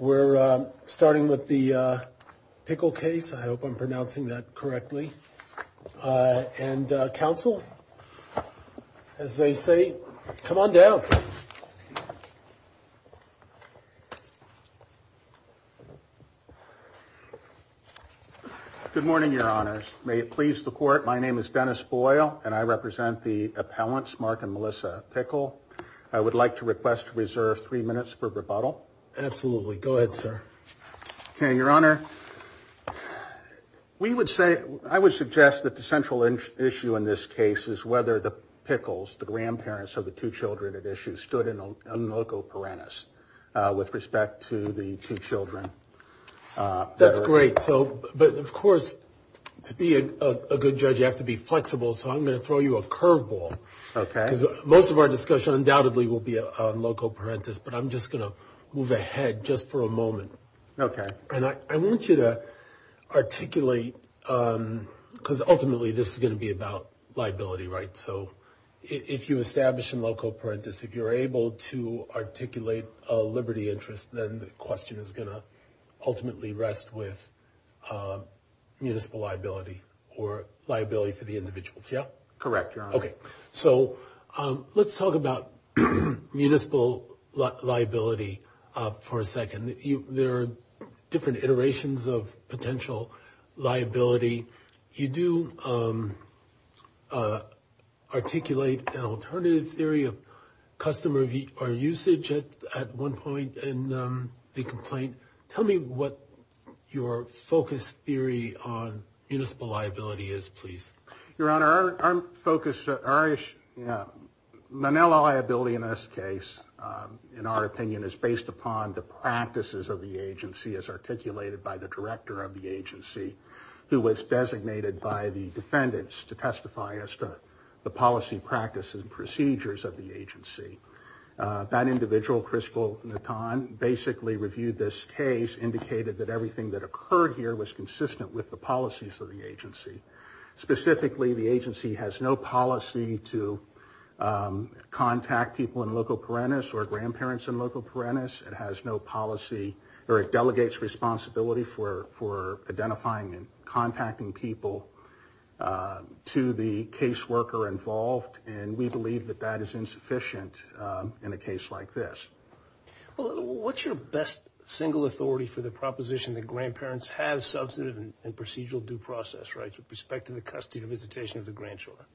We're starting with the Pickle case. I hope I'm pronouncing that correctly and counsel as they say come on down. Good morning your honors. May it please the court my name is Dennis Boyle and I represent the appellants Mark and Melissa Pickle. I would like to request to reserve three minutes for rebuttal. Absolutely go ahead sir. Okay your honor we would say I would suggest that the central issue in this case is whether the Pickles the grandparents of the two children at issue stood in a local parentis with respect to the two children. That's great so but of course to be a good judge you have to be flexible so I'm going to throw you a I'm just going to move ahead just for a moment. Okay. And I want you to articulate because ultimately this is going to be about liability right so if you establish in loco parentis if you're able to articulate a liberty interest then the question is going to ultimately rest with municipal liability or liability for the individuals yeah? Correct your honor. Okay so let's talk about municipal liability for a second. There are different iterations of potential liability. You do articulate an alternative theory of customer usage at one point in the complaint. Tell me what your focus theory on municipal liability in this case in our opinion is based upon the practices of the agency as articulated by the director of the agency who was designated by the defendants to testify as to the policy practices and procedures of the agency. That individual Crystal Natan basically reviewed this case indicated that everything that occurred here was consistent with the policies of the people in loco parentis or grandparents in loco parentis. It has no policy or it delegates responsibility for for identifying and contacting people to the caseworker involved and we believe that that is insufficient in a case like this. Well what's your best single authority for the proposition that grandparents have substantive and procedural due process rights with respect to the visitation of the grandchildren?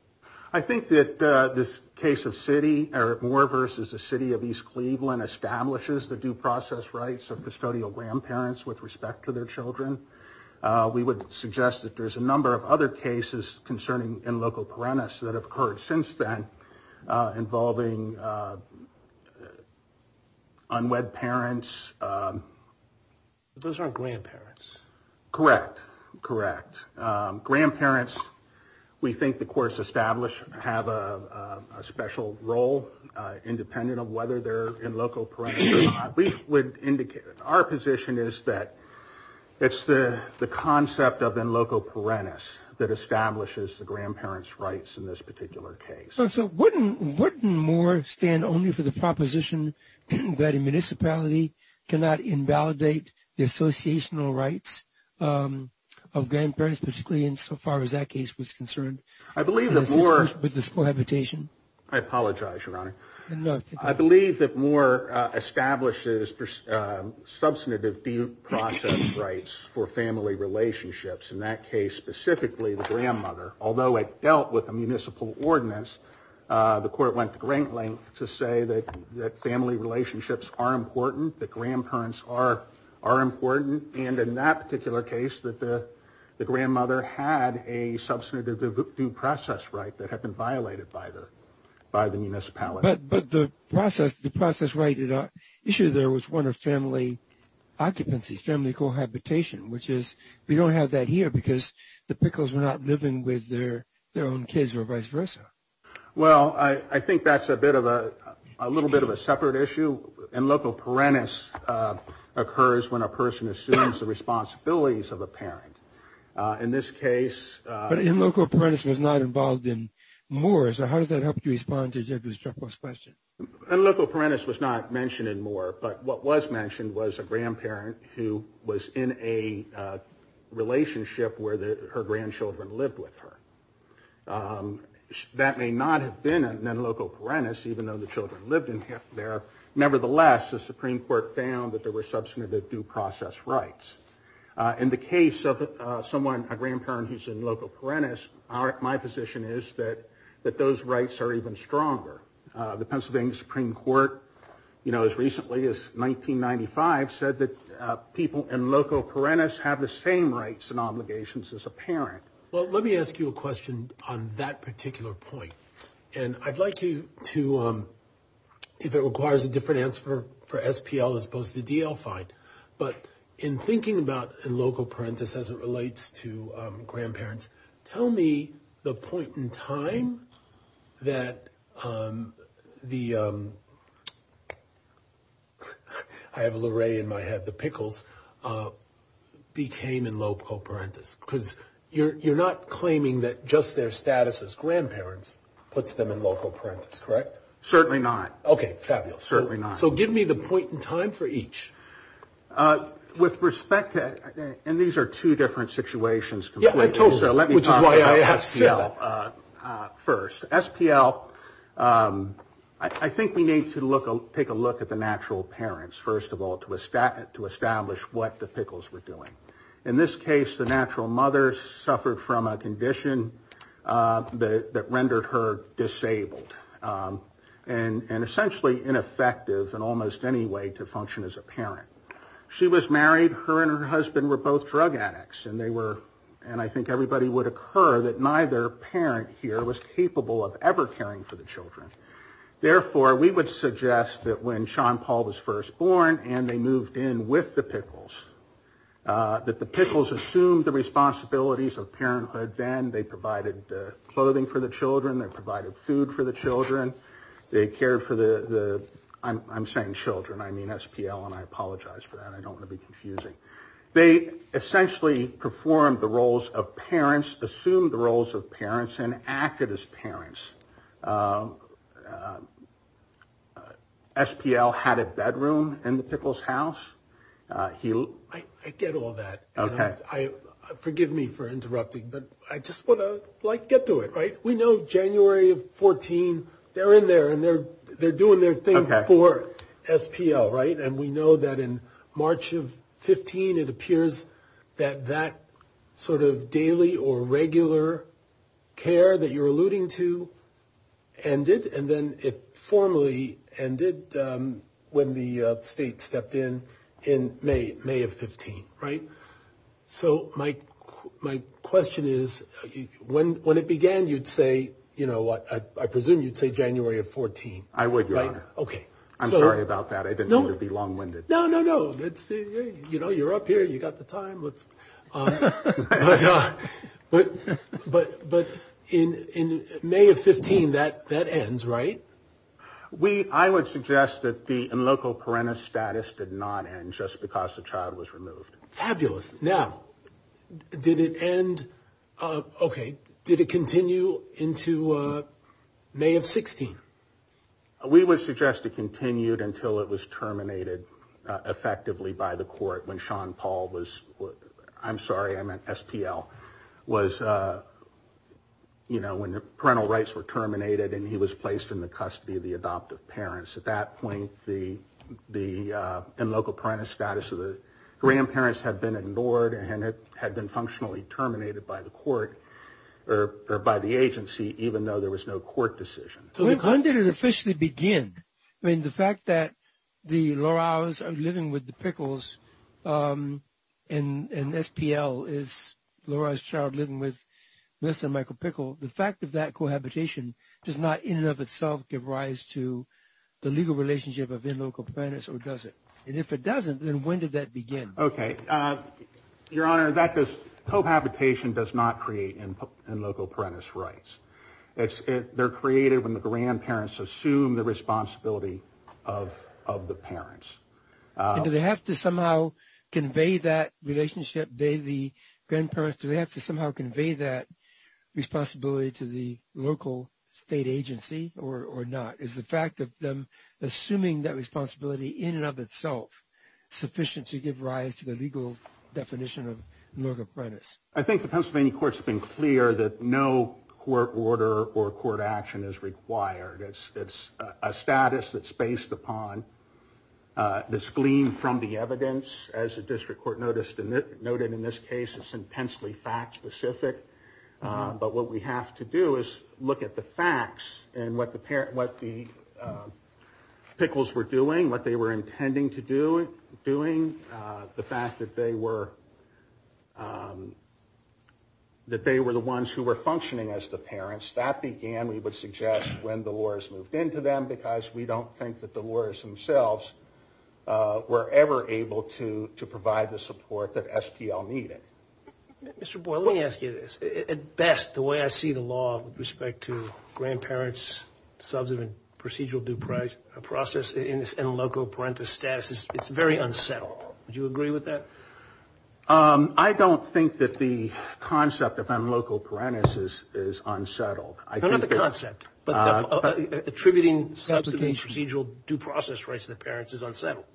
I think that this case of city Eric Moore versus the city of East Cleveland establishes the due process rights of custodial grandparents with respect to their children. We would suggest that there's a number of other cases concerning in loco parentis that have occurred since then involving unwed parents. Those aren't grandparents. Correct. Correct. Grandparents we think the courts establish have a special role independent of whether they're in loco parentis or not. We would indicate our position is that it's the concept of in loco parentis that establishes the grandparents rights in this particular case. So wouldn't Moore stand only for the proposition that a municipality cannot invalidate the associational rights of grandparents particularly in so far as that case was concerned with the school habitation? I apologize your honor. I believe that Moore establishes substantive due process rights for family relationships in that case specifically the grandmother. When the court dealt with the municipal ordinance the court went to great length to say that family relationships are important, that grandparents are important, and in that particular case that the grandmother had a substantive due process right that had been violated by the municipality. But the process right issue there was one of family occupancy, family cohabitation, which is we don't have that here because the Pickles were not living with their own kids or vice versa. Well, I think that's a little bit of a separate issue. In loco parentis occurs when a person assumes the responsibilities of a parent. In this case... But in loco parentis was not involved in Moore. So how does that help you respond to Jeffrey's question? In loco parentis was not mentioned in Moore, but what was mentioned was a grandparent who was in a relationship where her grandchildren lived with her. That may not have been in loco parentis even though the children lived in there. Nevertheless, the Supreme Court found that there were substantive due process rights. In the case of someone, a grandparent who's in loco parentis, my position is that those rights are even stronger. The Pennsylvania Supreme Court, you know, as recently as 1995, said that people in loco parentis have the same rights and obligations as a parent. Well, let me ask you a question on that particular point. And I'd like you to, if it requires a different answer for SPL as opposed to DL, fine. But in thinking about in loco parentis as it relates to grandparents, tell me the point in time when you think about the fact that the, I have Luray in my head, the pickles, became in loco parentis. Because you're not claiming that just their status as grandparents puts them in loco parentis, correct? Certainly not. Okay, fabulous. So give me the point in time for each. With respect to, and these are two different situations. Yeah, I told you. SPL, I think we need to take a look at the natural parents, first of all, to establish what the pickles were doing. In this case, the natural mother suffered from a condition that rendered her disabled. And essentially ineffective in almost any way to function as a parent. She was married, her and her husband were both drug addicts, and they were, and I think everybody would occur, that neither parent here was capable of ever caring for the children. Therefore, we would suggest that when Sean Paul was first born and they moved in with the pickles, that the pickles assumed the responsibilities of parenthood then. They provided clothing for the children. They provided food for the children. They cared for the, I'm saying children, I mean SPL, and I apologize for that. I don't want to be confusing. They essentially performed the roles of parents, assumed the roles of parents and acted as parents. SPL had a bedroom in the pickles house. I get all that. Okay. Forgive me for interrupting, but I just want to like get to it. Right. We know January 14. They're in there and they're doing their thing for SPL, right? And we know that in March of 15, it appears that that sort of daily or regular care that you're alluding to ended, and then it formally ended when the state stepped in in May of 15, right? So my question is, when it began, you'd say, you know, I presume you'd say, well, let's say January of 14. I would, Your Honor. I'm sorry about that. I didn't mean to be long winded. No, no, no. You know, you're up here. You got the time. But in May of 15, that ends, right? I would suggest that the in loco parentis status did not end just because the child was removed. Fabulous. Now, did it end? Okay. Did it continue into May of 16? We would suggest it continued until it was terminated effectively by the court when Sean Paul was, I'm sorry, I meant SPL, was, you know, when the parental rights were terminated and he was placed in the custody of the adoptive parents. At that point, the in loco parentis status of the grandparents had been ignored, and it had been functionally terminated by the court or by the agency, even though there was no court decision. When did it officially begin? I mean, the fact that the Loraos are living with the Pickles, and SPL is Lorao's child living with Mr. Michael Pickle. The fact of that cohabitation does not in and of itself give rise to the legal relationship of in loco parentis or does it? And if it doesn't, then when did that begin? Okay. Your Honor, that cohabitation does not create in loco parentis rights. They're created when the grandparents assume the responsibility of the parents. Do they have to somehow convey that relationship? Do they have to somehow convey that responsibility to the local state agency or not? Is the fact of them assuming that responsibility in and of itself sufficient to give rise to the legal definition of loco parentis? I think the Pennsylvania courts have been clear that no court order or court action is required. It's a status that's based upon this gleam from the evidence. As the district court noted in this case, it's intensely fact specific. But what we have to do is look at the facts and what the Pickles were doing, what they were intending to do, the fact that they were the ones who were functioning as the parents. That began, we would suggest, when the Loras moved into them, because we don't think that the Loras themselves were ever able to provide the support that SPL needed. Mr. Boyle, let me ask you this. At best, the way I see the law with respect to grandparents' substantive procedural due process and loco parentis status, it's very unsettled. Would you agree with that? I don't think that the concept of loco parentis is unsettled. No, not the concept. But attributing substantive procedural due process rights to the parents is unsettled.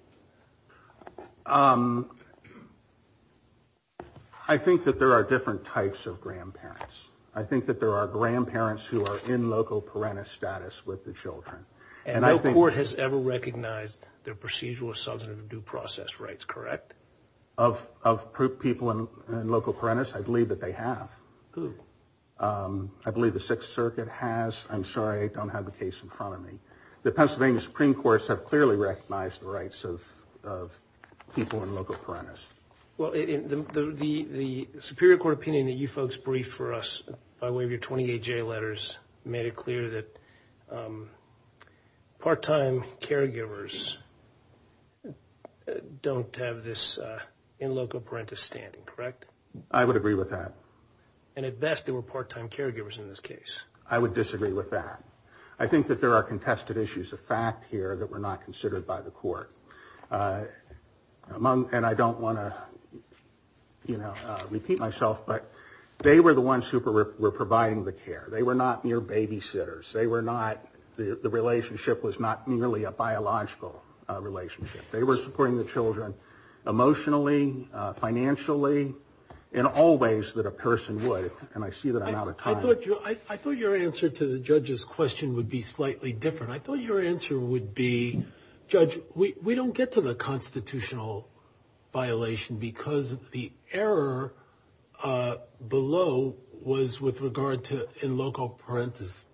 I think that there are different types of grandparents. I think that there are grandparents who are in loco parentis status with the children. And no court has ever recognized their procedural substantive due process rights, correct? Of people in loco parentis, I believe that they have. I believe the Sixth Circuit has. I'm sorry, I don't have the case in front of me. The Pennsylvania Supreme Courts have clearly recognized the rights of people in loco parentis. Well, the Superior Court opinion that you folks briefed for us by way of your 28-J letters made it clear that part-time caregivers don't have this in loco parentis standing, correct? I would agree with that. And at best, they were part-time caregivers in this case. I would disagree with that. I think that there are contested issues of fact here that were not considered by the court. And I don't want to repeat myself, but they were the ones who were providing the care. They were not mere babysitters. The relationship was not merely a biological relationship. They were supporting the children emotionally, financially, in all ways that a person would. And I see that I'm out of time. I thought your answer to the judge's question would be slightly different. I thought your answer would be, judge, we don't get to the constitutional violation because the error below was with regard to in loco parentis.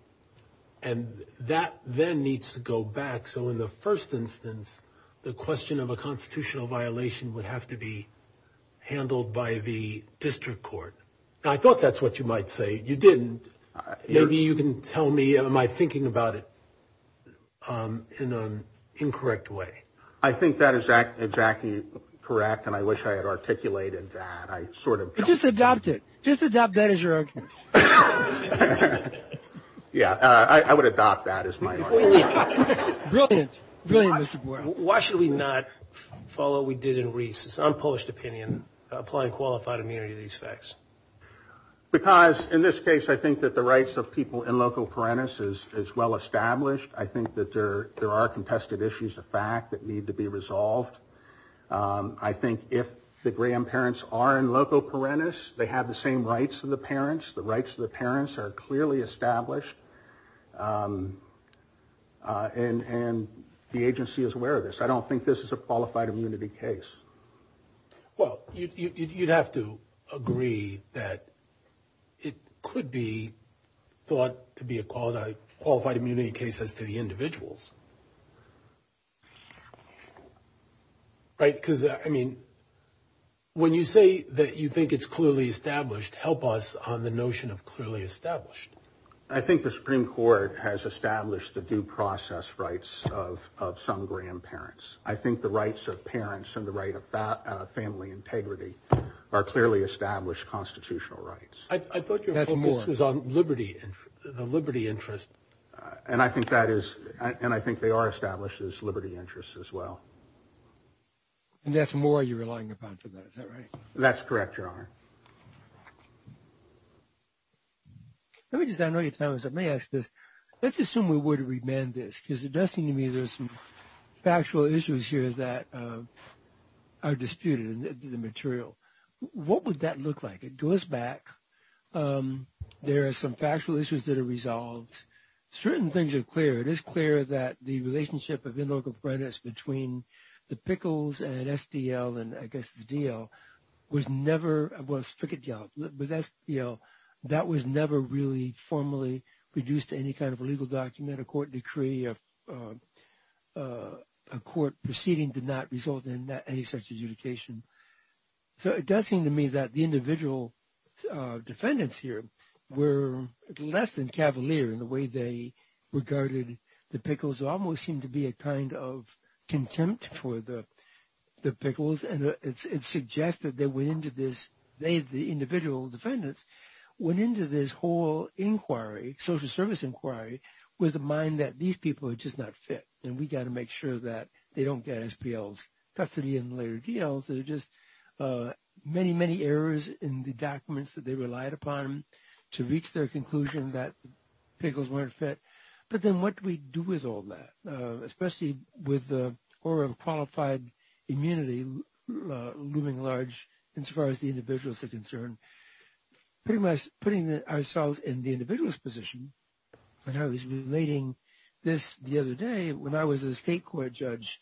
And that then needs to go back. So in the first instance, the question of a constitutional violation would have to be handled by the district court. I thought that's what you might say. You didn't. Maybe you can tell me, am I thinking about it in an incorrect way? I think that is exactly correct, and I wish I had articulated that. Just adopt it. Yeah, I would adopt that as my argument. Why should we not follow what we did in Reese's unpublished opinion, apply qualified immunity to these facts? Because in this case, I think that the rights of people in loco parentis is well established. I think that there are contested issues of fact that need to be resolved. I think if the grandparents are in loco parentis, they have the same rights as the parents. The rights of the parents are clearly established. And the agency is aware of this. I don't think this is a qualified immunity case. Well, you'd have to agree that it could be thought to be a qualified immunity case as to the individuals. Right? Because, I mean, when you say that you think it's clearly established, help us on the notion of clearly established. I think the Supreme Court has established the due process rights of some grandparents. I think the rights of parents and the right of family integrity are clearly established constitutional rights. I thought your focus was on liberty and liberty interest. And I think that is and I think they are established as liberty interests as well. And that's more you're relying upon for that. That's correct, Your Honor. Let me just I know your time is up. May I ask this? Let's assume we were to remand this because it does seem to me there's some factual issues here that are disputed in the material. What would that look like? It goes back. There are some factual issues that are resolved. Certain things are clear. It is clear that the relationship of in loco parentis between the Pickles and SDL and, I guess, the DL was never, well, it's Frick and Gallop, but that's, you know, that was never really formally reduced to any kind of a legal document, a court decree, a court proceeding did not result in any such adjudication. So it does seem to me that the individual defendants here were less than cavalier in the way they regarded the Pickles, almost seemed to be a kind of contempt for the Pickles. And it suggests that they went into this, they, the individual defendants, went into this whole inquiry, social service inquiry with the mind that these people are just not fit and we got to make sure that they don't get SPLs custody in later deals. There are just many, many errors in the documents that they relied upon to reach their conclusion that Pickles weren't fit. But then what do we do with all that, especially with the horror of qualified immunity looming large, as far as the individuals are concerned? Pretty much putting ourselves in the individual's position, and I was relating this the other day, when I was a state court judge,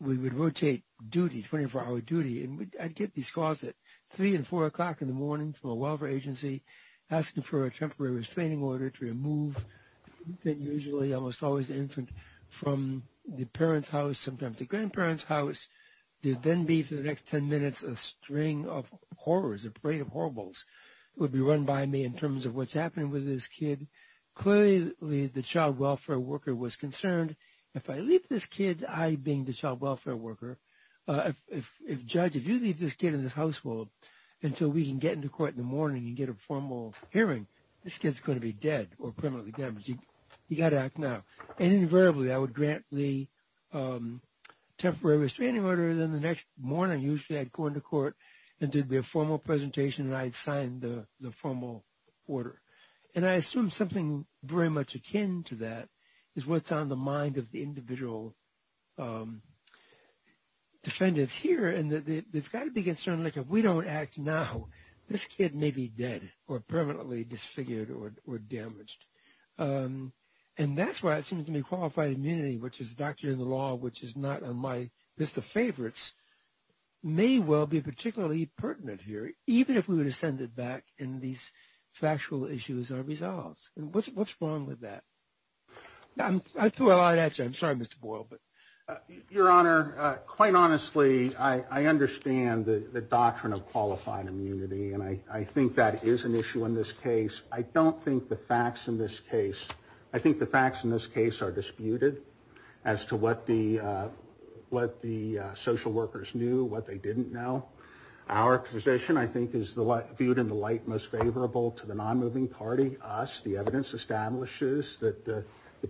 we would rotate duty, 24-hour duty, and I'd get these calls at 3 and 4 o'clock in the morning from a welfare agency asking for a temporary restraining order to remove the usually almost always infant from the parents' house, sometimes the grandparents' house. There'd then be, for the next 10 minutes, a string of horrors, a parade of horribles would be run by me in terms of what's happening with this kid. Clearly, the child welfare worker was concerned, if I leave this kid, I being the child welfare worker, if, judge, if you leave this kid in this household until we can get into court in the morning and get a formal hearing, this kid's going to be dead or permanently damaged. You've got to act now. And invariably, I would grant the temporary restraining order, and then the next morning, usually I'd go into court and there'd be a formal presentation and I'd sign the formal order. And I assume something very much akin to that is what's on the mind of the individual defendants here, and they've got to be concerned, like, if we don't act now, this kid may be dead or permanently disfigured or damaged. And that's why it seems to me qualified immunity, which is a doctrine of the law, which is not on my list of favorites, may well be particularly pertinent here, even if we were to send it back and these factual issues are resolved. And what's wrong with that? I threw a lot at you. I'm sorry, Mr. Boyle. Your Honor, quite honestly, I understand the doctrine of qualified immunity, and I think that is an issue in this case. I don't think the facts in this case, I think the facts in this case are disputed as to what the social workers knew, what they didn't know. Our position, I think, is viewed in the light most favorable to the non-moving party, us. The evidence establishes that the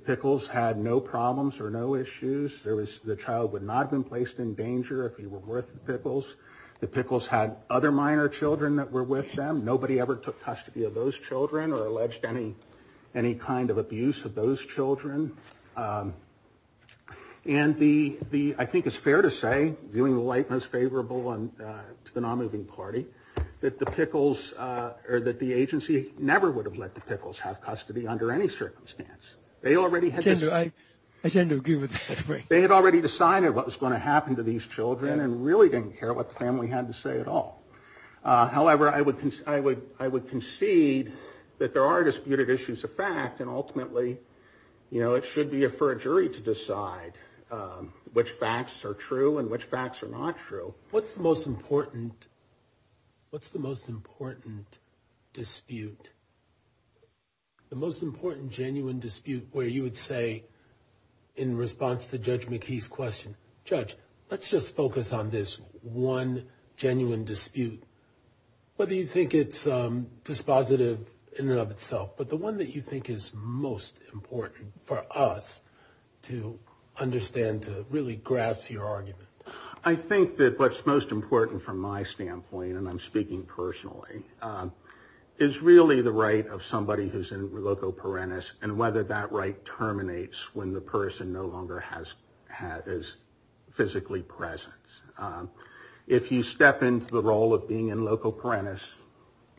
Pickles had no problems or no issues. The child would not have been placed in danger if he were with the Pickles. The Pickles had other minor children that were with them. Nobody ever took custody of those children or alleged any kind of abuse of those children. And I think it's fair to say, viewing the light most favorable to the non-moving party, that the agency never would have let the Pickles have custody under any circumstance. I tend to agree with that. They had already decided what was going to happen to these children and really didn't care what the family had to say at all. However, I would concede that there are disputed issues of fact, and ultimately it should be for a jury to decide which facts are true and which facts are not true. What's the most important dispute, the most important genuine dispute where you would say in response to Judge McKee's question, Judge, let's just focus on this one genuine dispute, whether you think it's dispositive in and of itself, but the one that you think is most important for us to understand, to really grasp your argument. I think that what's most important from my standpoint, and I'm speaking personally, is really the right of somebody who's in loco parentis and whether that right terminates when the person no longer is physically present. If you step into the role of being in loco parentis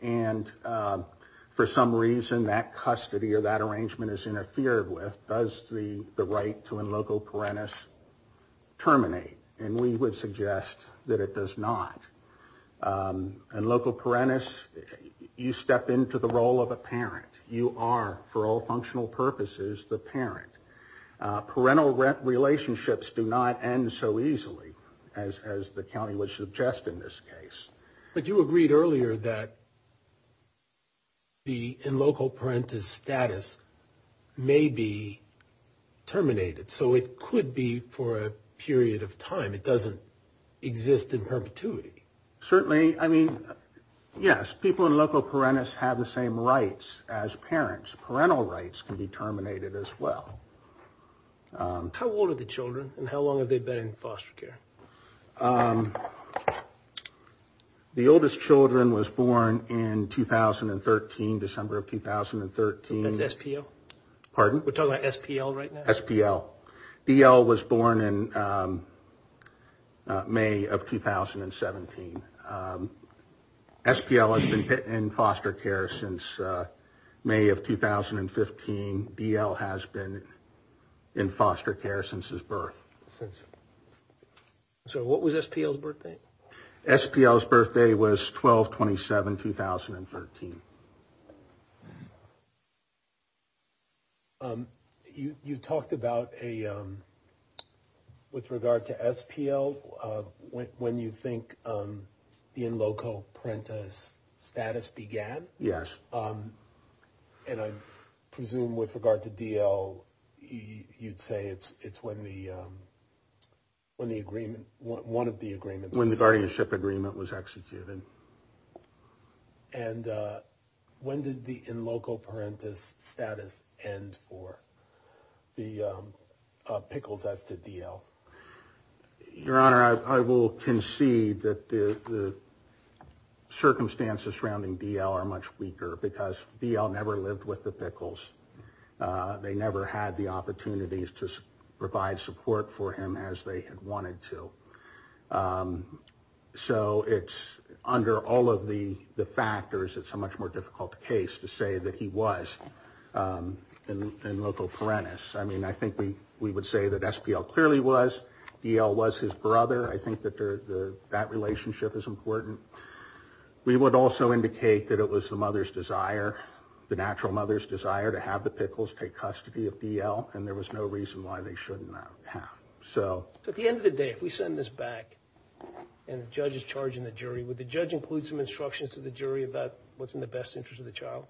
and for some reason that custody or that arrangement is interfered with, does the right to in loco parentis terminate? And we would suggest that it does not. In loco parentis, you step into the role of a parent. You are, for all functional purposes, the parent. Parental relationships do not end so easily as the county would suggest in this case. But you agreed earlier that the in loco parentis status may be terminated. So it could be for a period of time. It doesn't exist in perpetuity. Certainly, I mean, yes, people in loco parentis have the same rights as parents. Parental rights can be terminated as well. How old are the children and how long have they been in foster care? The oldest children was born in 2013, December of 2013. That's SPL? Pardon? We're talking about SPL right now? SPL. DL was born in May of 2017. SPL has been in foster care since May of 2015. DL has been in foster care since his birth. So what was SPL's birthday? SPL's birthday was 12-27-2013. You talked about a, with regard to SPL, when you think the in loco parentis status began? Yes. And I presume with regard to DL, you'd say it's when the agreement, one of the agreements. When the guardianship agreement was executed. And when did the in loco parentis status end for the Pickles as to DL? Your Honor, I will concede that the circumstances surrounding DL are much weaker because DL never lived with the Pickles. They never had the opportunities to provide support for him as they had wanted to. So it's under all of the factors, it's a much more difficult case to say that he was in loco parentis. I mean, I think we would say that SPL clearly was. DL was his brother. I think that that relationship is important. We would also indicate that it was the mother's desire, the natural mother's desire, to have the Pickles take custody of DL. And there was no reason why they shouldn't have. So at the end of the day, if we send this back and the judge is charging the jury, would the judge include some instructions to the jury about what's in the best interest of the child?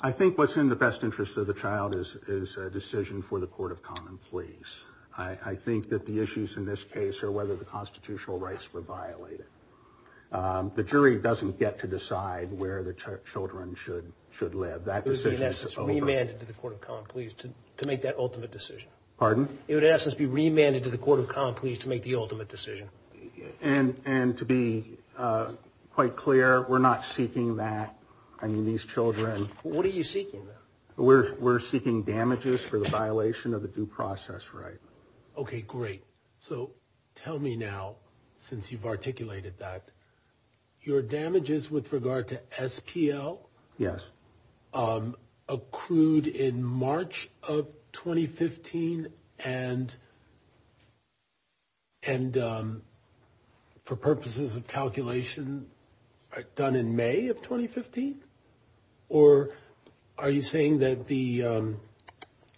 I think what's in the best interest of the child is a decision for the court of common pleas. I think that the issues in this case are whether the constitutional rights were violated. The jury doesn't get to decide where the children should live. That decision is over. It would be in essence remanded to the court of common pleas to make that ultimate decision. Pardon? It would in essence be remanded to the court of common pleas to make the ultimate decision. And to be quite clear, we're not seeking that. I mean, these children. What are you seeking? We're seeking damages for the violation of the due process right. Okay, great. So tell me now, since you've articulated that, your damages with regard to SPL? Yes. Accrued in March of 2015 and for purposes of calculation done in May of 2015? Or are you saying that the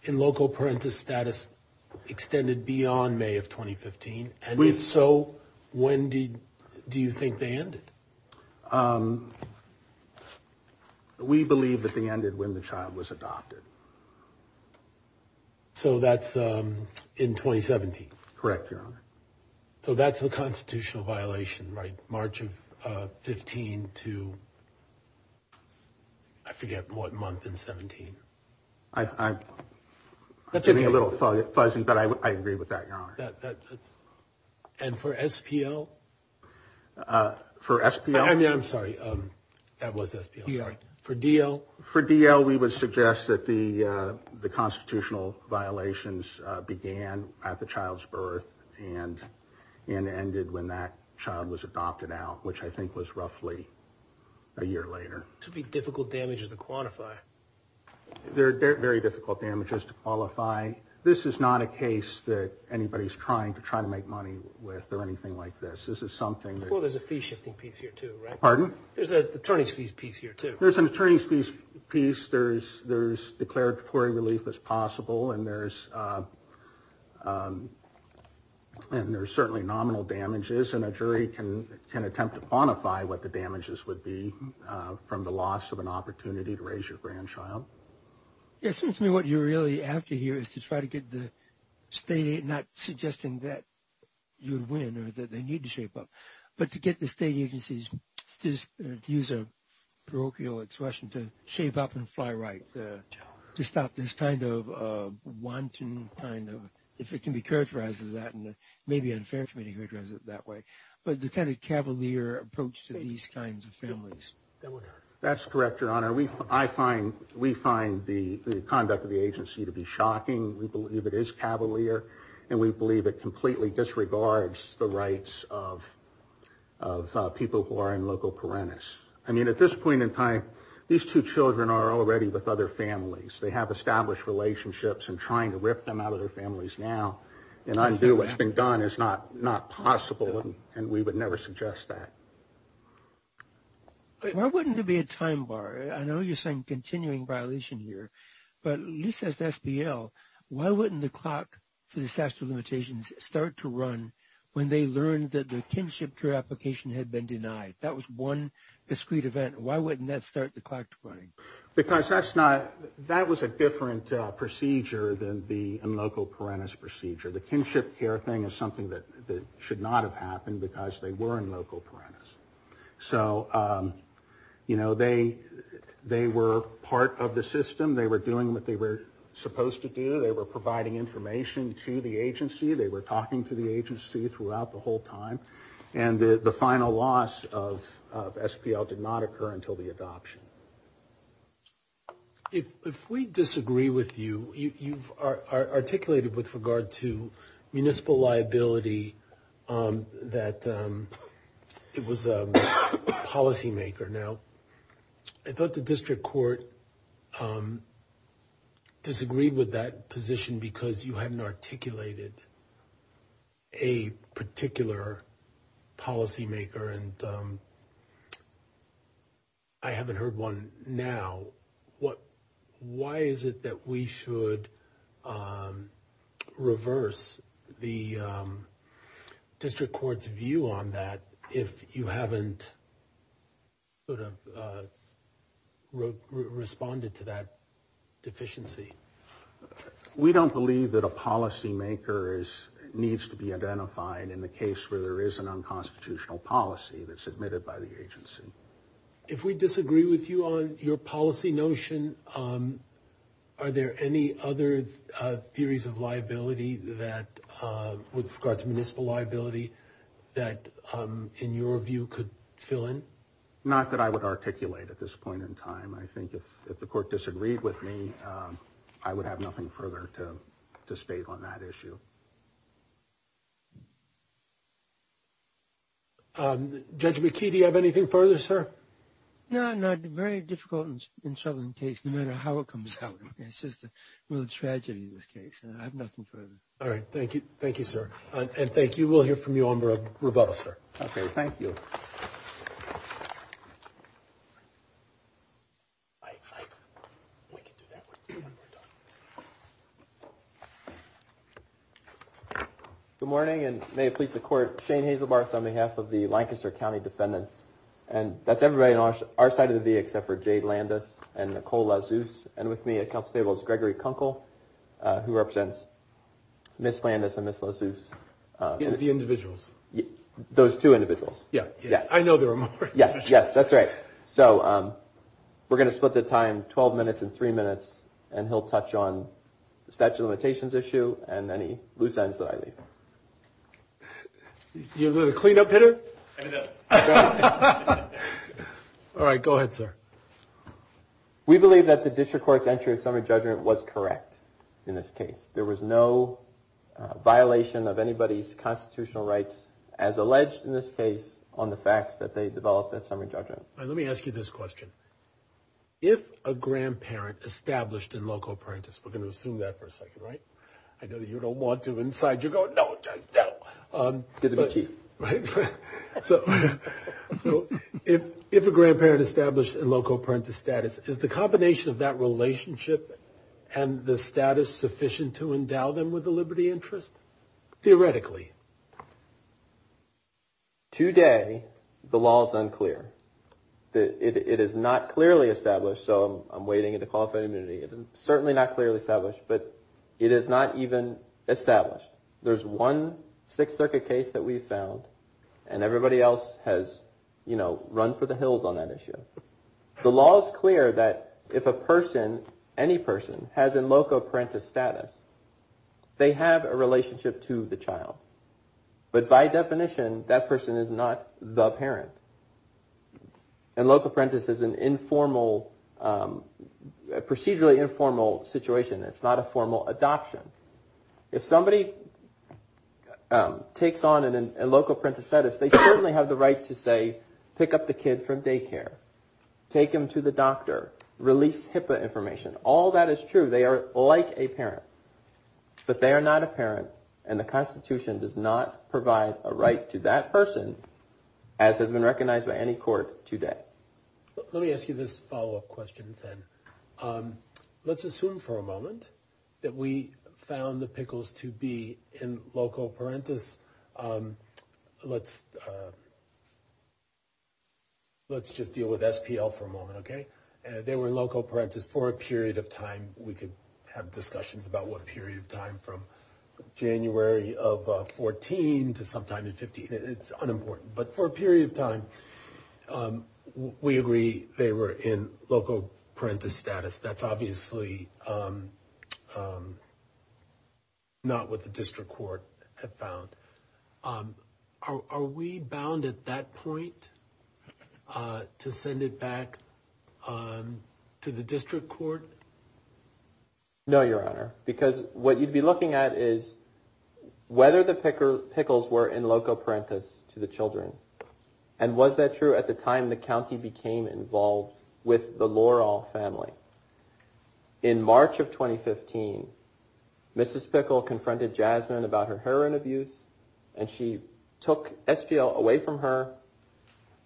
in loco parentis status extended beyond May of 2015? If so, when do you think they ended? We believe that they ended when the child was adopted. So that's in 2017? Correct, Your Honor. So that's a constitutional violation, right? March of 15 to I forget what month in 17. I'm getting a little fuzzy, but I agree with that, Your Honor. And for SPL? For SPL? I'm sorry. That was SPL, sorry. For DL? For DL, we would suggest that the constitutional violations began at the child's birth and ended when that child was adopted out, which I think was roughly a year later. This would be difficult damages to quantify. They're very difficult damages to qualify. This is not a case that anybody's trying to try to make money with or anything like this. This is something that- Well, there's a fee shifting piece here, too, right? Pardon? There's an attorney's fees piece here, too. There's an attorney's fees piece. There's declaratory relief as possible, and there's certainly nominal damages, and a jury can attempt to quantify what the damages would be from the loss of an opportunity to raise your grandchild. It seems to me what you really have to hear is to try to get the state, not suggesting that you would win or that they need to shape up, but to get the state agencies to use a parochial expression, to shape up and fly right, to stop this kind of wanton kind of, if it can be characterized as that, and it may be unfair for me to characterize it that way, but the kind of cavalier approach to these kinds of families. That's correct, Your Honor. We find the conduct of the agency to be shocking. We believe it is cavalier, and we believe it completely disregards the rights of people who are in local parentis. I mean, at this point in time, these two children are already with other families. They have established relationships, and trying to rip them out of their families now and undo what's been done is not possible, and we would never suggest that. Why wouldn't there be a time bar? I know you're saying continuing violation here, but at least as SPL, why wouldn't the clock for disaster limitations start to run when they learned that the kinship care application had been denied? That was one discrete event. Why wouldn't that start the clock running? Because that's not, that was a different procedure than the local parentis procedure. The kinship care thing is something that should not have happened because they were in local parentis. So, you know, they were part of the system. They were doing what they were supposed to do. They were providing information to the agency. They were talking to the agency throughout the whole time, and the final loss of SPL did not occur until the adoption. If we disagree with you, you've articulated with regard to municipal liability that it was a policymaker. Now, I thought the district court disagreed with that position because you hadn't articulated a particular policymaker, and I haven't heard one now. Why is it that we should reverse the district court's view on that if you haven't sort of responded to that deficiency? We don't believe that a policymaker needs to be identified in the case where there is an unconstitutional policy that's admitted by the agency. If we disagree with you on your policy notion, are there any other theories of liability that, with regard to municipal liability, that, in your view, could fill in? Not that I would articulate at this point in time. I think if the court disagreed with me, I would have nothing further to state on that issue. Judge McKee, do you have anything further, sir? No, not very difficult and troubling case, no matter how it comes out. It's just a real tragedy, this case, and I have nothing further. All right. Thank you. Thank you, sir, and thank you. We'll hear from you on rebuttal, sir. Okay. Thank you. We can do that one more time. Good morning, and may it please the Court, Shane Hazelbarth on behalf of the Lancaster County Defendants, and that's everybody on our side of the VA except for Jay Landis and Nicole LaZeus, and with me at counsel's table is Gregory Kunkel, who represents Ms. Landis and Ms. LaZeus. The individuals. Those two individuals. Yes. I know there are more. Yes, that's right. So we're going to split the time 12 minutes and three minutes, and he'll touch on the statute of limitations issue and any loose ends that I leave. You're the clean-up hitter? All right. Go ahead, sir. We believe that the district court's entry of summary judgment was correct in this case. There was no violation of anybody's constitutional rights, as alleged in this case, on the facts that they developed that summary judgment. Now, let me ask you this question. If a grandparent established in loco parentis, we're going to assume that for a second, right? I know that you don't want to inside. You're going, no, no. It's good to be chief. Right? So if a grandparent established in loco parentis status, is the combination of that relationship and the status sufficient to endow them with the liberty interest? Theoretically. Today, the law is unclear. It is not clearly established, so I'm waiting to call for immunity. It is certainly not clearly established, but it is not even established. There's one Sixth Circuit case that we've found, and everybody else has, you know, run for the hills on that issue. The law is clear that if a person, any person, has in loco parentis status, they have a relationship to the child. But by definition, that person is not the parent. And loco parentis is an informal, procedurally informal situation. It's not a formal adoption. If somebody takes on in loco parentis status, they certainly have the right to say, pick up the kid from daycare. Take him to the doctor. Release HIPAA information. All that is true. They are like a parent, but they are not a parent, and the Constitution does not provide a right to that person, as has been recognized by any court today. Let me ask you this follow-up question, then. Let's assume for a moment that we found the pickles to be in loco parentis. Let's just deal with SPL for a moment, okay? They were in loco parentis for a period of time. We could have discussions about what period of time, from January of 14 to sometime in 15. It's unimportant. But for a period of time, we agree they were in loco parentis status. That's obviously not what the district court had found. Are we bound at that point to send it back to the district court? No, Your Honor, because what you'd be looking at is whether the pickles were in loco parentis to the children. And was that true at the time the county became involved with the Loral family? In March of 2015, Mrs. Pickle confronted Jasmine about her heroin abuse, and she took SPL away from her,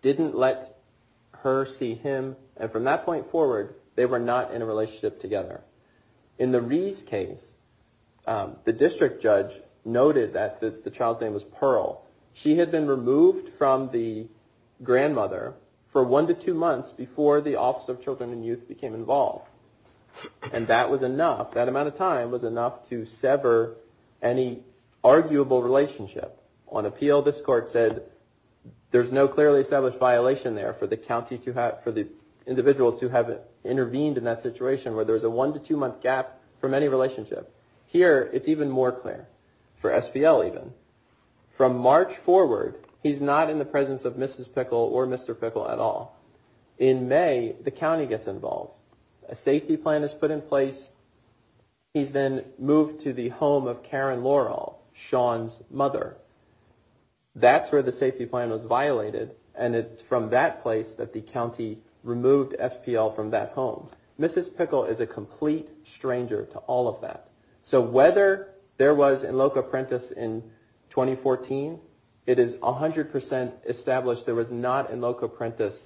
didn't let her see him, and from that point forward, they were not in a relationship together. In the Rees case, the district judge noted that the child's name was Pearl. She had been removed from the grandmother for one to two months before the Office of Children and Youth became involved, and that amount of time was enough to sever any arguable relationship. On appeal, this court said there's no clearly established violation there for the individuals who have intervened in that situation where there's a one to two month gap from any relationship. Here, it's even more clear, for SPL even. From March forward, he's not in the presence of Mrs. Pickle or Mr. Pickle at all. In May, the county gets involved. A safety plan is put in place. He's then moved to the home of Karen Loral, Sean's mother. That's where the safety plan was violated, and it's from that place that the county removed SPL from that home. Mrs. Pickle is a complete stranger to all of that. So whether there was in loco prentis in 2014, it is 100% established there was not in loco prentis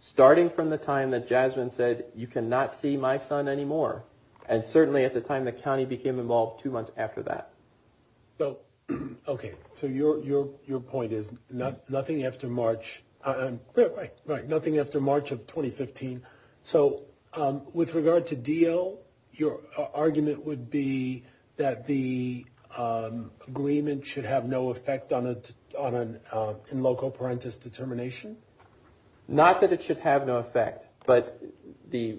starting from the time that Jasmine said, you cannot see my son anymore, and certainly at the time the county became involved two months after that. Okay, so your point is nothing after March of 2015. So with regard to DO, your argument would be that the agreement should have no effect on an in loco prentis determination? Not that it should have no effect, but the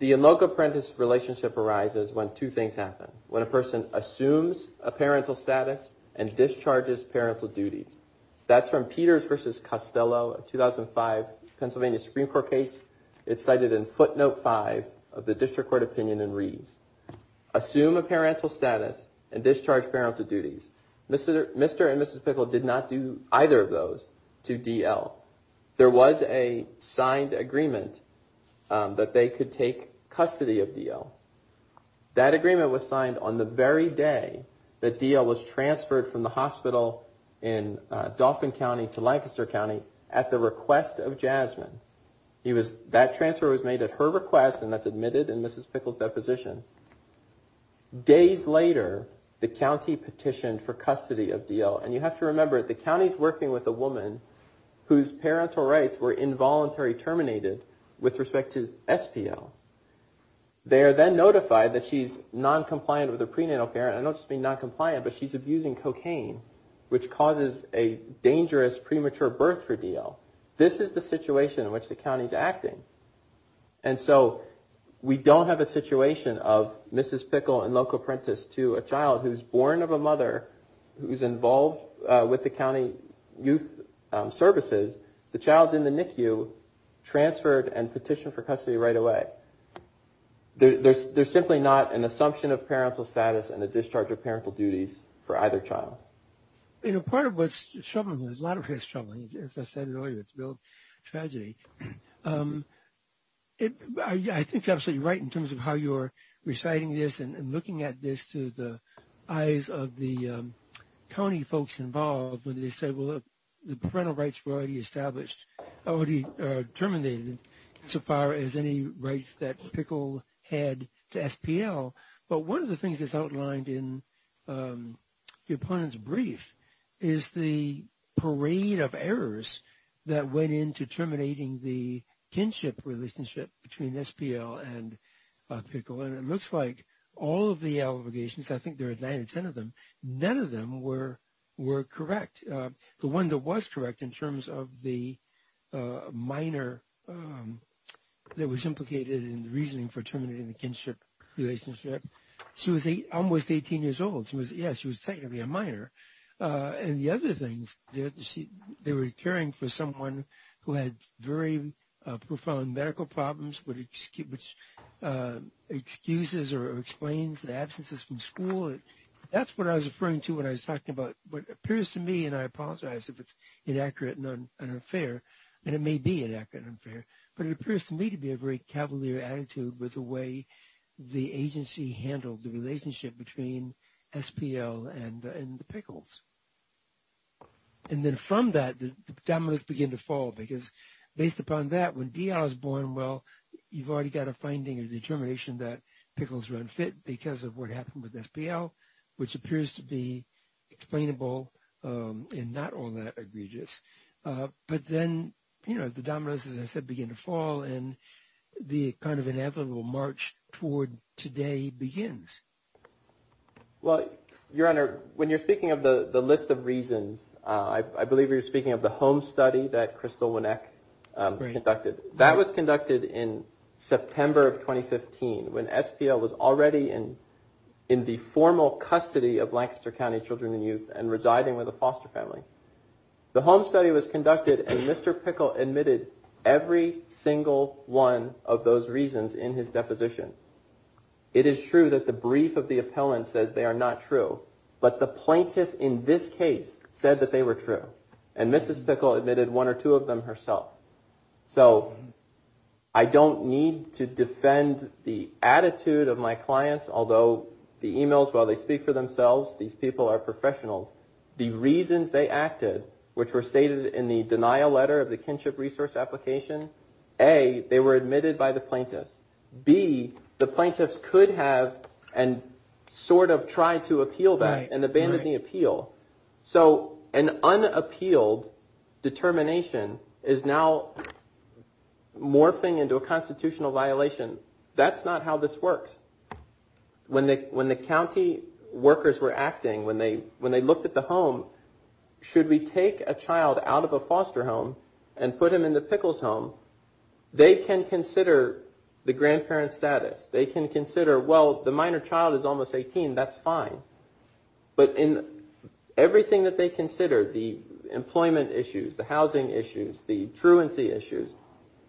in loco prentis relationship arises when two things happen. When a person assumes a parental status and discharges parental duties. That's from Peters v. Costello, a 2005 Pennsylvania Supreme Court case. It's cited in footnote five of the district court opinion in Rees. Assume a parental status and discharge parental duties. Mr. and Mrs. Pickle did not do either of those to DL. There was a signed agreement that they could take custody of DL. That agreement was signed on the very day that DL was transferred from the hospital in Dauphin County to Lancaster County at the request of Jasmine. That transfer was made at her request and that's admitted in Mrs. Pickle's deposition. Days later, the county petitioned for custody of DL. And you have to remember, the county is working with a woman whose parental rights were involuntary terminated with respect to SPL. They are then notified that she's non-compliant with her prenatal parent. I don't just mean non-compliant, but she's abusing cocaine, which causes a dangerous premature birth for DL. This is the situation in which the county is acting. And so we don't have a situation of Mrs. Pickle and local apprentice to a child who's born of a mother who's involved with the county youth services. The child's in the NICU, transferred, and petitioned for custody right away. There's simply not an assumption of parental status and a discharge of parental duties for either child. Part of what's troubling, a lot of it is troubling. As I said earlier, it's a real tragedy. I think you're absolutely right in terms of how you're reciting this and looking at this through the eyes of the county folks involved when they say, well, the parental rights were already established, already terminated so far as any rights that Pickle had to SPL. But one of the things that's outlined in the opponent's brief is the parade of errors that went into terminating the kinship relationship between SPL and Pickle. And it looks like all of the allegations, I think there are nine or ten of them, none of them were correct. The one that was correct in terms of the minor that was implicated in the reasoning for terminating the kinship relationship, she was almost 18 years old. Yes, she was technically a minor. And the other thing, they were caring for someone who had very profound medical problems which excuses or explains the absences from school. That's what I was referring to when I was talking about what appears to me, and I apologize if it's inaccurate and unfair, and it may be inaccurate and unfair, but it appears to me to be a very cavalier attitude with the way the agency handled the relationship between SPL and the Pickles. And then from that, the dominoes begin to fall because based upon that, when D.R. is born, well, you've already got a finding, a determination that Pickles were unfit because of what happened with SPL, which appears to be explainable and not all that egregious. But then, you know, the dominoes, as I said, begin to fall, and the kind of inevitable march toward today begins. Well, Your Honor, when you're speaking of the list of reasons, I believe you're speaking of the home study that Crystal Weneck conducted. That was conducted in September of 2015 when SPL was already in the formal custody of Lancaster County children and youth and residing with a foster family. The home study was conducted, and Mr. Pickles admitted every single one of those reasons in his deposition. It is true that the brief of the appellant says they are not true, but the plaintiff in this case said that they were true, and Mrs. Pickles admitted one or two of them herself. So I don't need to defend the attitude of my clients, although the emails, while they speak for themselves, these people are professionals. The reasons they acted, which were stated in the denial letter of the kinship resource application, A, they were admitted by the plaintiffs. B, the plaintiffs could have and sort of tried to appeal that and abandoned the appeal. So an unappealed determination is now morphing into a constitutional violation. That's not how this works. When the county workers were acting, when they looked at the home, should we take a child out of a foster home and put him in the Pickles' home? They can consider the grandparent status. They can consider, well, the minor child is almost 18. That's fine. But in everything that they consider, the employment issues, the housing issues, the truancy issues,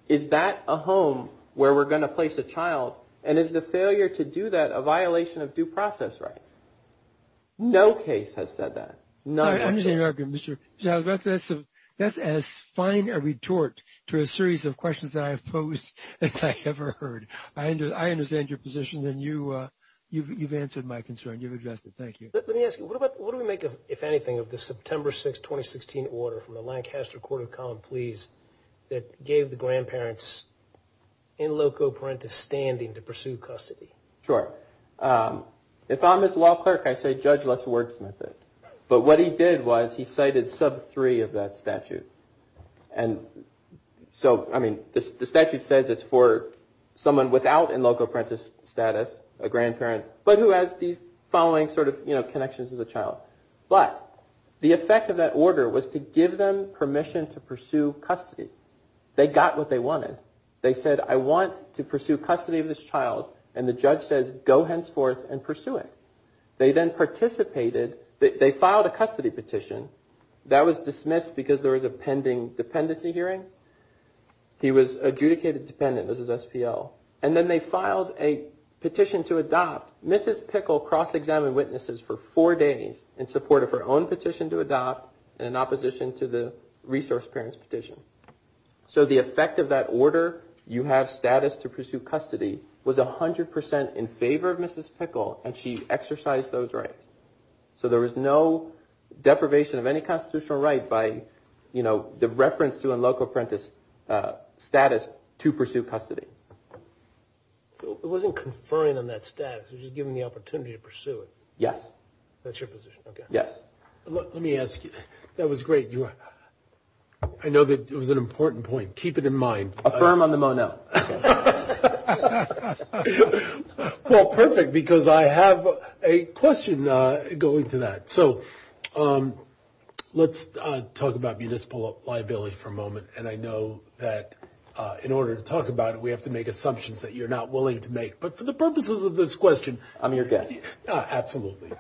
is that a home where we're going to place a child? And is the failure to do that a violation of due process rights? No case has said that. None actually. That's as fine a retort to a series of questions that I have posed as I ever heard. I understand your position, and you've answered my concern. You've addressed it. Thank you. Let me ask you, what do we make, if anything, of the September 6, 2016 order from the Lancaster Court of Common Pleas that gave the grandparents in loco parentis standing to pursue custody? Sure. If I'm its law clerk, I say, Judge, let's wordsmith it. But what he did was he cited sub 3 of that statute. And so, I mean, the statute says it's for someone without in loco parentis status, a grandparent, but who has these following sort of, you know, connections to the child. But the effect of that order was to give them permission to pursue custody. They got what they wanted. They said, I want to pursue custody of this child. And the judge says, go henceforth and pursue it. They then participated. They filed a custody petition. That was dismissed because there was a pending dependency hearing. He was adjudicated dependent, was his SPO. And then they filed a petition to adopt. Mrs. Pickle cross-examined witnesses for four days in support of her own petition to adopt and in opposition to the resource parents petition. So the effect of that order, you have status to pursue custody, was 100% in favor of Mrs. Pickle, and she exercised those rights. So there was no deprivation of any constitutional right by, you know, the reference to a loco parentis status to pursue custody. So it wasn't conferring on that status. It was just giving them the opportunity to pursue it. Yes. That's your position. Okay. Yes. Let me ask you. That was great. I know that it was an important point. Keep it in mind. Affirm on the Mon-El. So let's talk about municipal liability for a moment. And I know that in order to talk about it, we have to make assumptions that you're not willing to make. But for the purposes of this question. I'm your guest. Absolutely.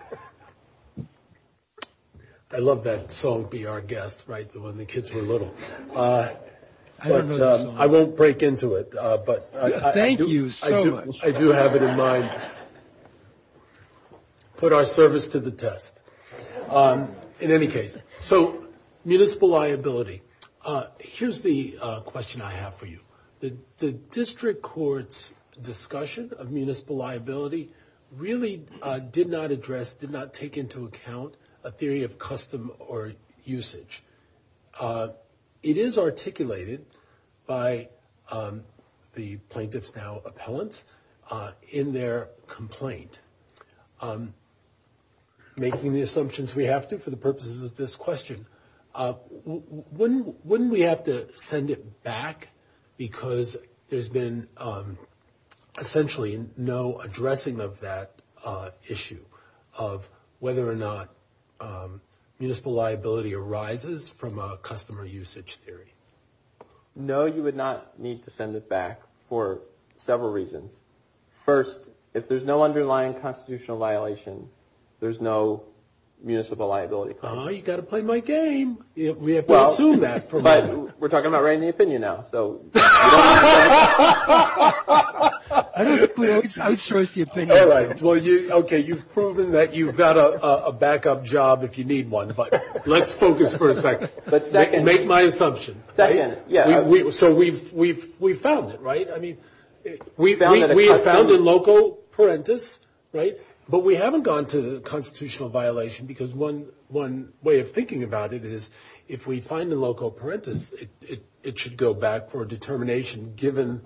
I love that song, Be Our Guest, right, when the kids were little. I don't know the song. I won't break into it. Thank you so much. I do have it in mind. Put our service to the test. In any case. So municipal liability. Here's the question I have for you. The district court's discussion of municipal liability really did not address, did not take into account a theory of custom or usage. It is articulated by the plaintiffs, now appellants, in their complaint. Making the assumptions we have to for the purposes of this question. Wouldn't we have to send it back? Because there's been essentially no addressing of that issue of whether or not municipal liability arises from a custom or usage theory. No, you would not need to send it back for several reasons. First, if there's no underlying constitutional violation, there's no municipal liability claim. Oh, you've got to play my game. We have to assume that. But we're talking about writing the opinion now. So you don't have to. I don't think we always have a choice here. All right. Well, okay, you've proven that you've got a backup job if you need one. But let's focus for a second. Make my assumption. So we've found it, right? We have found a local parentis, right? But we haven't gone to the constitutional violation because one way of thinking about it is if we find a local parentis, it should go back for a determination, given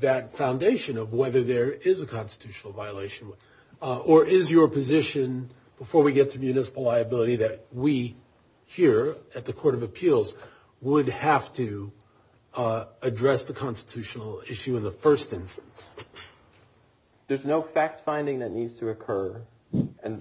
that foundation of whether there is a constitutional violation. Or is your position, before we get to municipal liability, that we here at the Court of Appeals would have to address the constitutional issue in the first instance? There's no fact-finding that needs to occur, and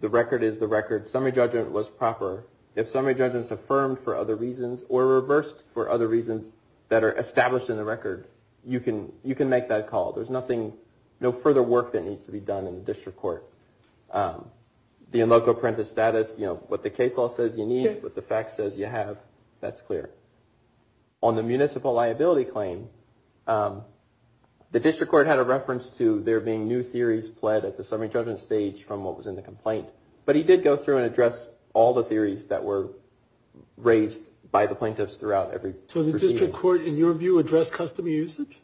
the record is the record. Summary judgment was proper. If summary judgment is affirmed for other reasons or reversed for other reasons that are established in the record, you can make that call. There's no further work that needs to be done in the district court. The in loco parentis status, what the case law says you need, what the fact says you have, that's clear. On the municipal liability claim, the district court had a reference to there being new theories pled at the summary judgment stage from what was in the complaint. But he did go through and address all the theories that were raised by the plaintiffs throughout every proceeding. So the district court, in your view, addressed custom usage?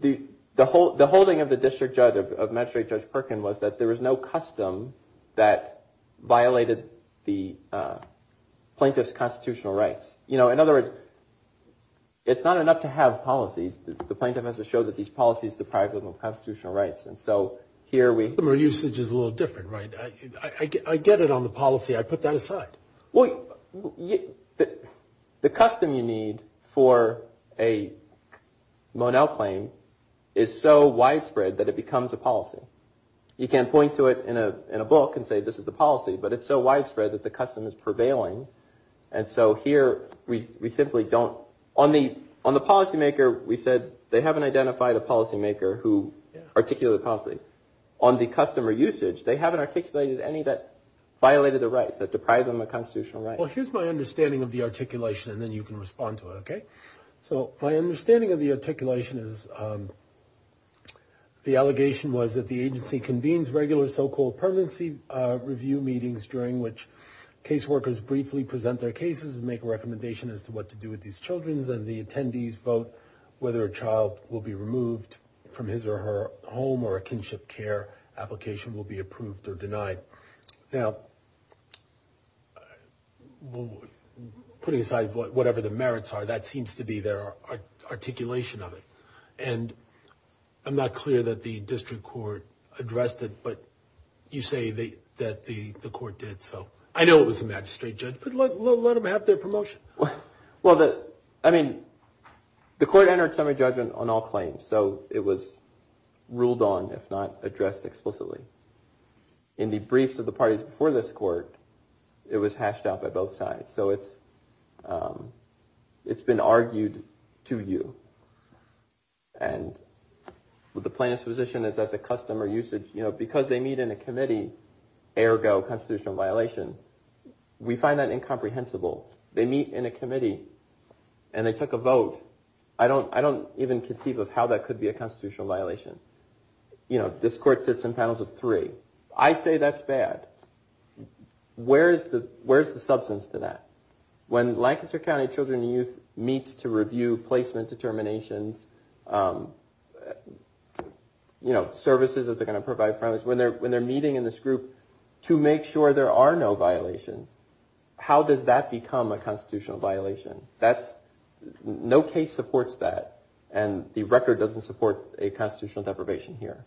The holding of the district judge, of Magistrate Judge Perkin, was that there was no custom that violated the plaintiff's constitutional rights. In other words, it's not enough to have policies. The plaintiff has to show that these policies deprive them of constitutional rights. And so here we... Custom usage is a little different, right? I get it on the policy. I put that aside. Well, the custom you need for a Monell claim is so widespread that it becomes a policy. You can't point to it in a book and say this is the policy, but it's so widespread that the custom is prevailing. And so here we simply don't... On the policymaker, we said they haven't identified a policymaker who articulated the policy. On the customer usage, they haven't articulated any that violated the rights, that deprived them of constitutional rights. Well, here's my understanding of the articulation, and then you can respond to it, okay? So my understanding of the articulation is the allegation was that the agency convenes regular so-called permanency review meetings during which caseworkers briefly present their cases and make a recommendation as to what to do with these children, and the attendees vote whether a child will be removed from his or her home or a kinship care application will be approved or denied. Now, putting aside whatever the merits are, that seems to be their articulation of it. And I'm not clear that the district court addressed it, but you say that the court did. So I know it was a magistrate judge, but let them have their promotion. Well, I mean, the court entered summary judgment on all claims, so it was ruled on, if not addressed explicitly. In the briefs of the parties before this court, it was hashed out by both sides. So it's been argued to you. And the plain exposition is that the custom or usage, because they meet in a committee, ergo constitutional violation, we find that incomprehensible. They meet in a committee, and they took a vote. I don't even conceive of how that could be a constitutional violation. You know, this court sits in panels of three. I say that's bad. Where is the substance to that? When Lancaster County Children and Youth meets to review placement determinations, you know, services that they're going to provide for families, when they're meeting in this group to make sure there are no violations, how does that become a constitutional violation? No case supports that, and the record doesn't support a constitutional deprivation here.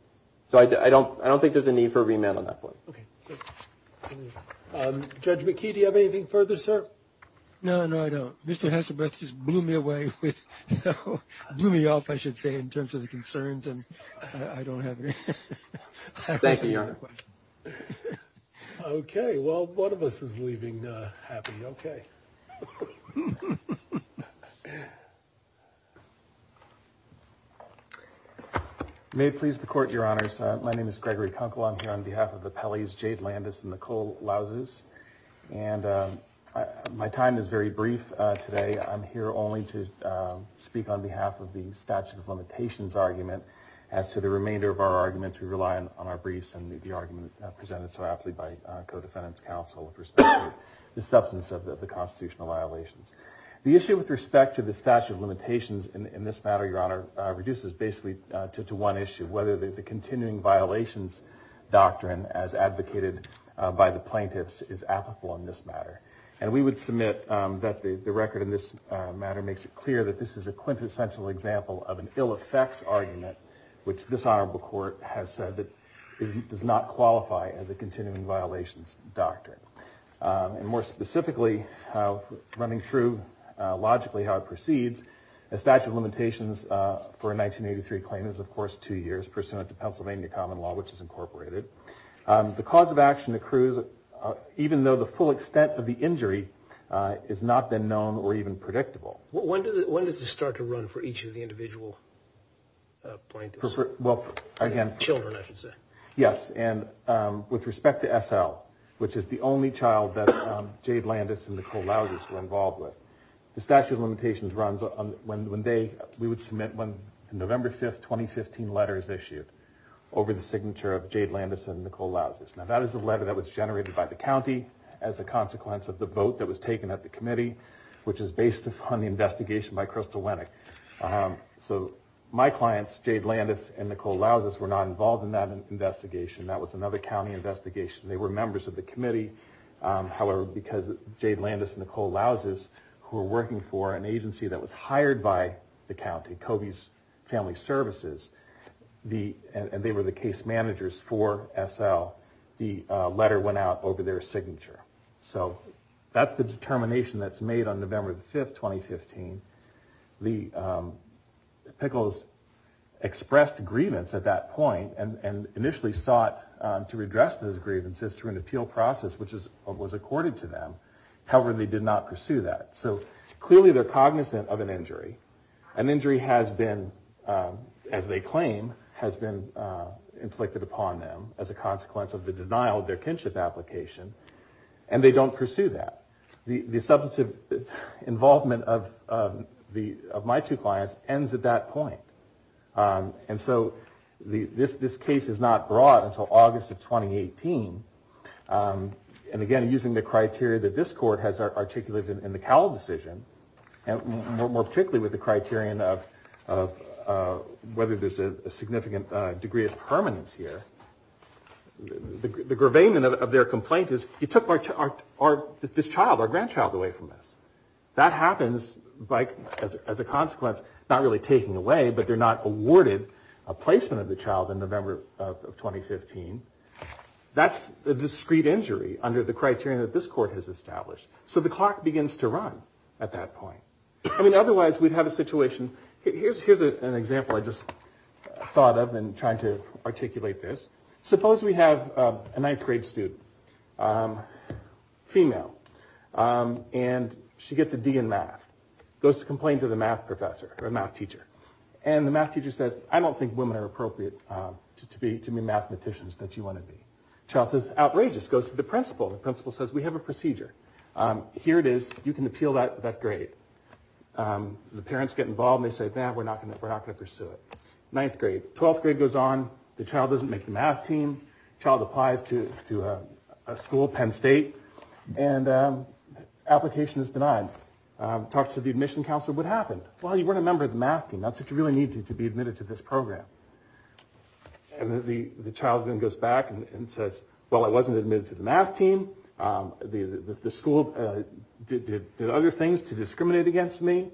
So I don't think there's a need for a remand on that point. Okay. Judge McKee, do you have anything further, sir? No, no, I don't. Mr. Hasselblad just blew me away with so – blew me off, I should say, in terms of the concerns, and I don't have any. Thank you, Your Honor. Okay. Okay, well, one of us is leaving happily. Okay. May it please the Court, Your Honors. My name is Gregory Kunkel. I'm here on behalf of the Pelleys, Jade Landis and Nicole Lauzes. And my time is very brief today. I'm here only to speak on behalf of the statute of limitations argument. As to the remainder of our arguments, we rely on our briefs and the argument presented so aptly by co-defendants' counsel with respect to the substance of the constitutional violations. The issue with respect to the statute of limitations in this matter, Your Honor, reduces basically to one issue, whether the continuing violations doctrine as advocated by the plaintiffs is applicable in this matter. And we would submit that the record in this matter makes it clear that this is a quintessential example of an ill-effects argument, which this Honorable Court has said that does not qualify as a continuing violations doctrine. And more specifically, running through logically how it proceeds, the statute of limitations for a 1983 claim is, of course, two years, pursuant to Pennsylvania common law, which is incorporated. The cause of action accrues even though the full extent of the injury has not been known or even predictable. When does this start to run for each of the individual plaintiffs? Well, again... Children, I should say. Yes, and with respect to S.L., which is the only child that Jade Landis and Nicole Lauzers were involved with, the statute of limitations runs when they, we would submit, when the November 5th, 2015 letter is issued over the signature of Jade Landis and Nicole Lauzers. Now, that is a letter that was generated by the county as a consequence of the vote that was taken at the committee, which is based upon the investigation by Crystal Winnick. So my clients, Jade Landis and Nicole Lauzers, were not involved in that investigation. That was another county investigation. They were members of the committee. However, because Jade Landis and Nicole Lauzers, who were working for an agency that was hired by the county, Covey's Family Services, and they were the case managers for S.L., the letter went out over their signature. So that's the determination that's made on November 5th, 2015. The Pickles expressed grievance at that point and initially sought to redress those grievances through an appeal process, which was accorded to them. However, they did not pursue that. So clearly they're cognizant of an injury. An injury has been, as they claim, has been inflicted upon them as a consequence of the denial of their kinship application. And they don't pursue that. The substantive involvement of my two clients ends at that point. And so this case is not brought until August of 2018. And again, using the criteria that this court has articulated in the Cowell decision, more particularly with the criterion of whether there's a significant degree of permanence here, the gravamen of their complaint is, you took this child, our grandchild, away from us. That happens as a consequence, not really taking away, but they're not awarded a placement of the child in November of 2015. That's a discrete injury under the criterion that this court has established. So the clock begins to run at that point. I mean, otherwise we'd have a situation, here's an example I just thought of in trying to articulate this. Suppose we have a ninth grade student, female. And she gets a D in math. Goes to complain to the math professor, or math teacher. And the math teacher says, I don't think women are appropriate to be mathematicians that you want to be. Child says, outrageous. Goes to the principal. The principal says, we have a procedure. Here it is, you can appeal that grade. The parents get involved and they say, we're not going to pursue it. Ninth grade. Twelfth grade goes on. The child doesn't make the math team. Child applies to a school, Penn State. And application is denied. Talks to the admission counselor. What happened? Well, you weren't a member of the math team. That's what you really needed to be admitted to this program. And the child then goes back and says, well, I wasn't admitted to the math team. The school did other things to discriminate against me.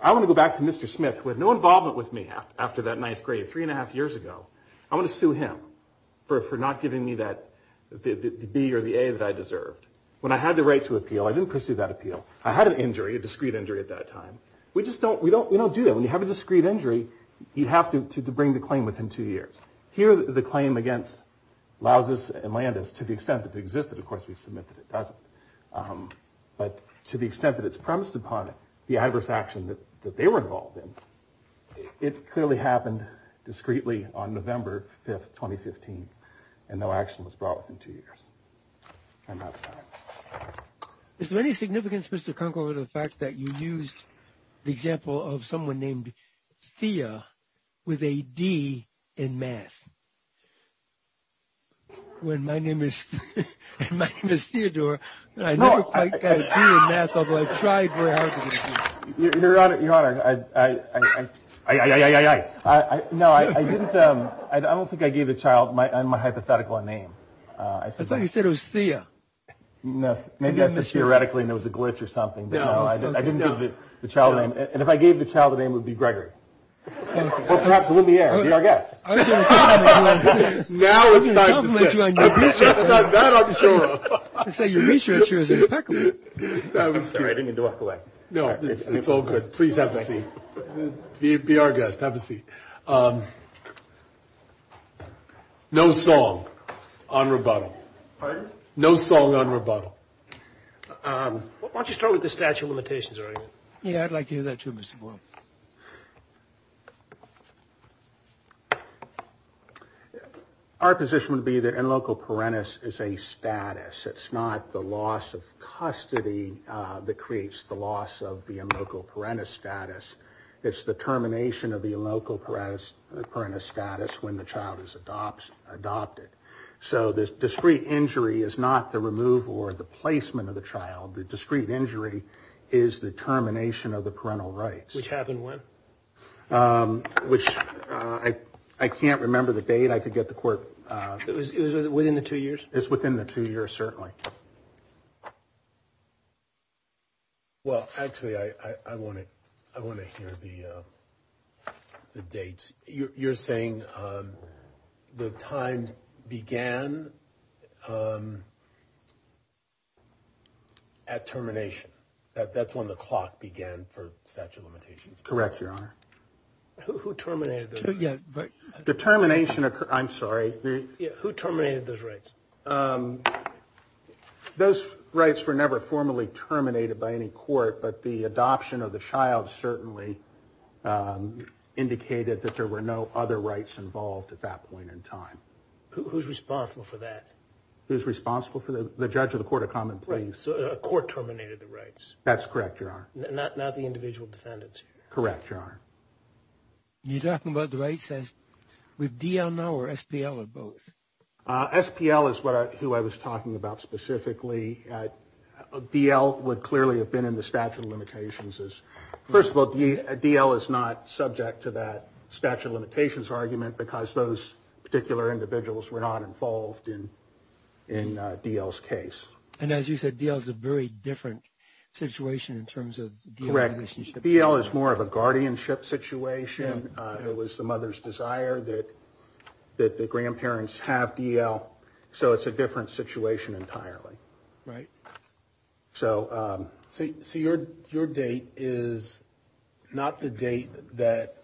I want to go back to Mr. Smith, who had no involvement with me after that ninth grade, three and a half years ago. I want to sue him for not giving me the B or the A that I deserved. When I had the right to appeal, I didn't pursue that appeal. I had an injury, a discrete injury at that time. We don't do that. When you have a discrete injury, you have to bring the claim within two years. Here, the claim against Lousis and Landis, to the extent that it existed, of course, we submit that it doesn't. But to the extent that it's premised upon the adverse action that they were involved in, it clearly happened discreetly on November 5th, 2015, and no action was brought within two years. I'm out of time. Is there any significance, Mr. Kunkel, to the fact that you used the example of someone named Thea with a D in math? When my name is Theodore, I never quite got a D in math, although I tried very hard to get a D. Your Honor, I don't think I gave the child my hypothetical name. I thought you said it was Thea. No. Maybe I said theoretically and there was a glitch or something. I didn't give the child a name. And if I gave the child a name, it would be Gregory. Or perhaps Lumiere. I'm sorry. Be our guest. Now it's time to sit. You've done that on the show. You say your research is impeccable. Sorry, I didn't mean to walk away. No, it's all good. Please have a seat. Be our guest. Have a seat. No song on rebuttal. Pardon? No song on rebuttal. Why don't you start with the statute of limitations? Yeah, I'd like to hear that too, Mr. Boyle. Our position would be that in local parentis is a status. It's not the loss of custody that creates the loss of the in local parentis status. It's the termination of the in local parentis status when the child is adopted. So the discrete injury is not the removal or the placement of the child. The discrete injury is the termination of the parental rights. Which happened when? Which I can't remember the date. I could get the court. It was within the two years. It's within the two years, certainly. Well, actually, I want to I want to hear the dates. You're saying the time began at termination. That's when the clock began for statute of limitations. Correct, Your Honor. Who terminated the termination? I'm sorry. Who terminated those rights? Those rights were never formally terminated by any court. But the adoption of the child certainly indicated that there were no other rights involved at that point in time. Who's responsible for that? Who's responsible for the judge of the court of common place? A court terminated the rights. That's correct. Your Honor. Not the individual defendants. Correct. Your Honor. You're talking about the rights with DL now or SPL or both? SPL is what I was talking about specifically. DL would clearly have been in the statute of limitations. First of all, DL is not subject to that statute of limitations argument because those particular individuals were not involved in DL's case. And as you said, DL is a very different situation in terms of DL. Correct. DL is more of a guardianship situation. It was the mother's desire that the grandparents have DL. So it's a different situation entirely. Right. So your date is not the date that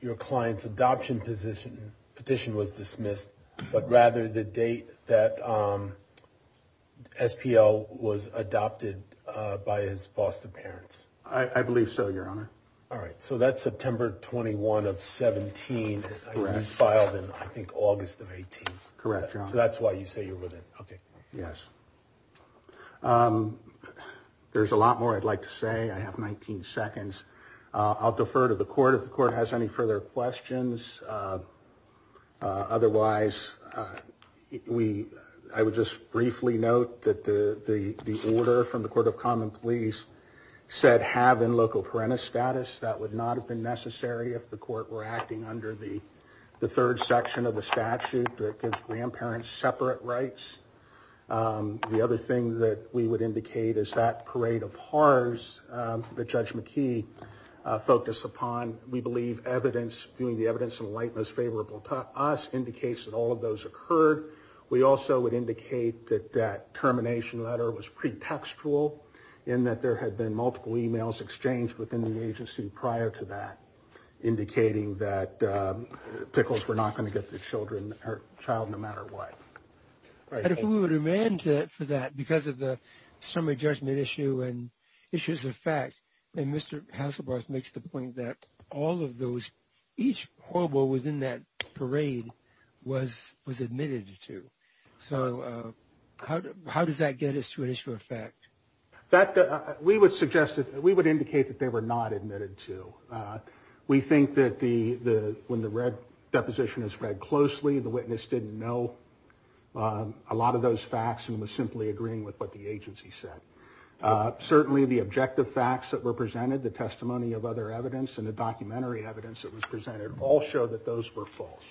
your client's adoption petition was dismissed, but rather the date that SPL was adopted by his foster parents. I believe so, Your Honor. All right. So that's September 21 of 17. Correct. You filed in, I think, August of 18. Correct, Your Honor. So that's why you say you're with it. Okay. Yes. There's a lot more I'd like to say. I have 19 seconds. I'll defer to the court if the court has any further questions. Otherwise, I would just briefly note that the order from the Court of Common Pleas said have in local parental status. That would not have been necessary if the court were acting under the third section of the statute that gives grandparents separate rights. The other thing that we would indicate is that parade of horrors that Judge McKee focused upon. We believe doing the evidence in a light that's favorable to us indicates that all of those occurred. We also would indicate that that termination letter was pretextual in that there had been multiple emails exchanged within the agency prior to that, indicating that Pickles were not going to get the child no matter what. And if we would amend that for that because of the summary judgment issue and issues of fact, and Mr. Hasselbarth makes the point that all of those, each horrible within that parade was admitted to. So how does that get us to an issue of fact? We would suggest that we would indicate that they were not admitted to. We think that when the red deposition is read closely, the witness didn't know a lot of those facts and was simply agreeing with what the agency said. Certainly the objective facts that were presented, the testimony of other evidence, and the documentary evidence that was presented all show that those were false.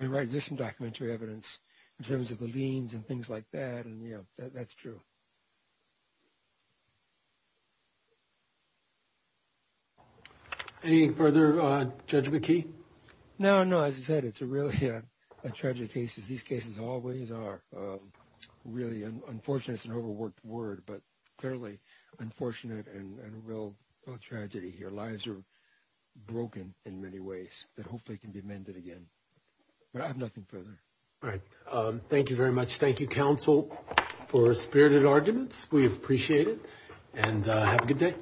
Right. There's some documentary evidence in terms of the liens and things like that. And, you know, that's true. Any further, Judge McKee? No, no. As I said, it's a really tragic case. These cases always are really unfortunate. It's an overworked word, but clearly unfortunate and a real tragedy here. Lives are broken in many ways that hopefully can be amended again. But I have nothing further. All right. Thank you very much. Thank you, counsel, for spirited arguments. We appreciate it. And have a good day.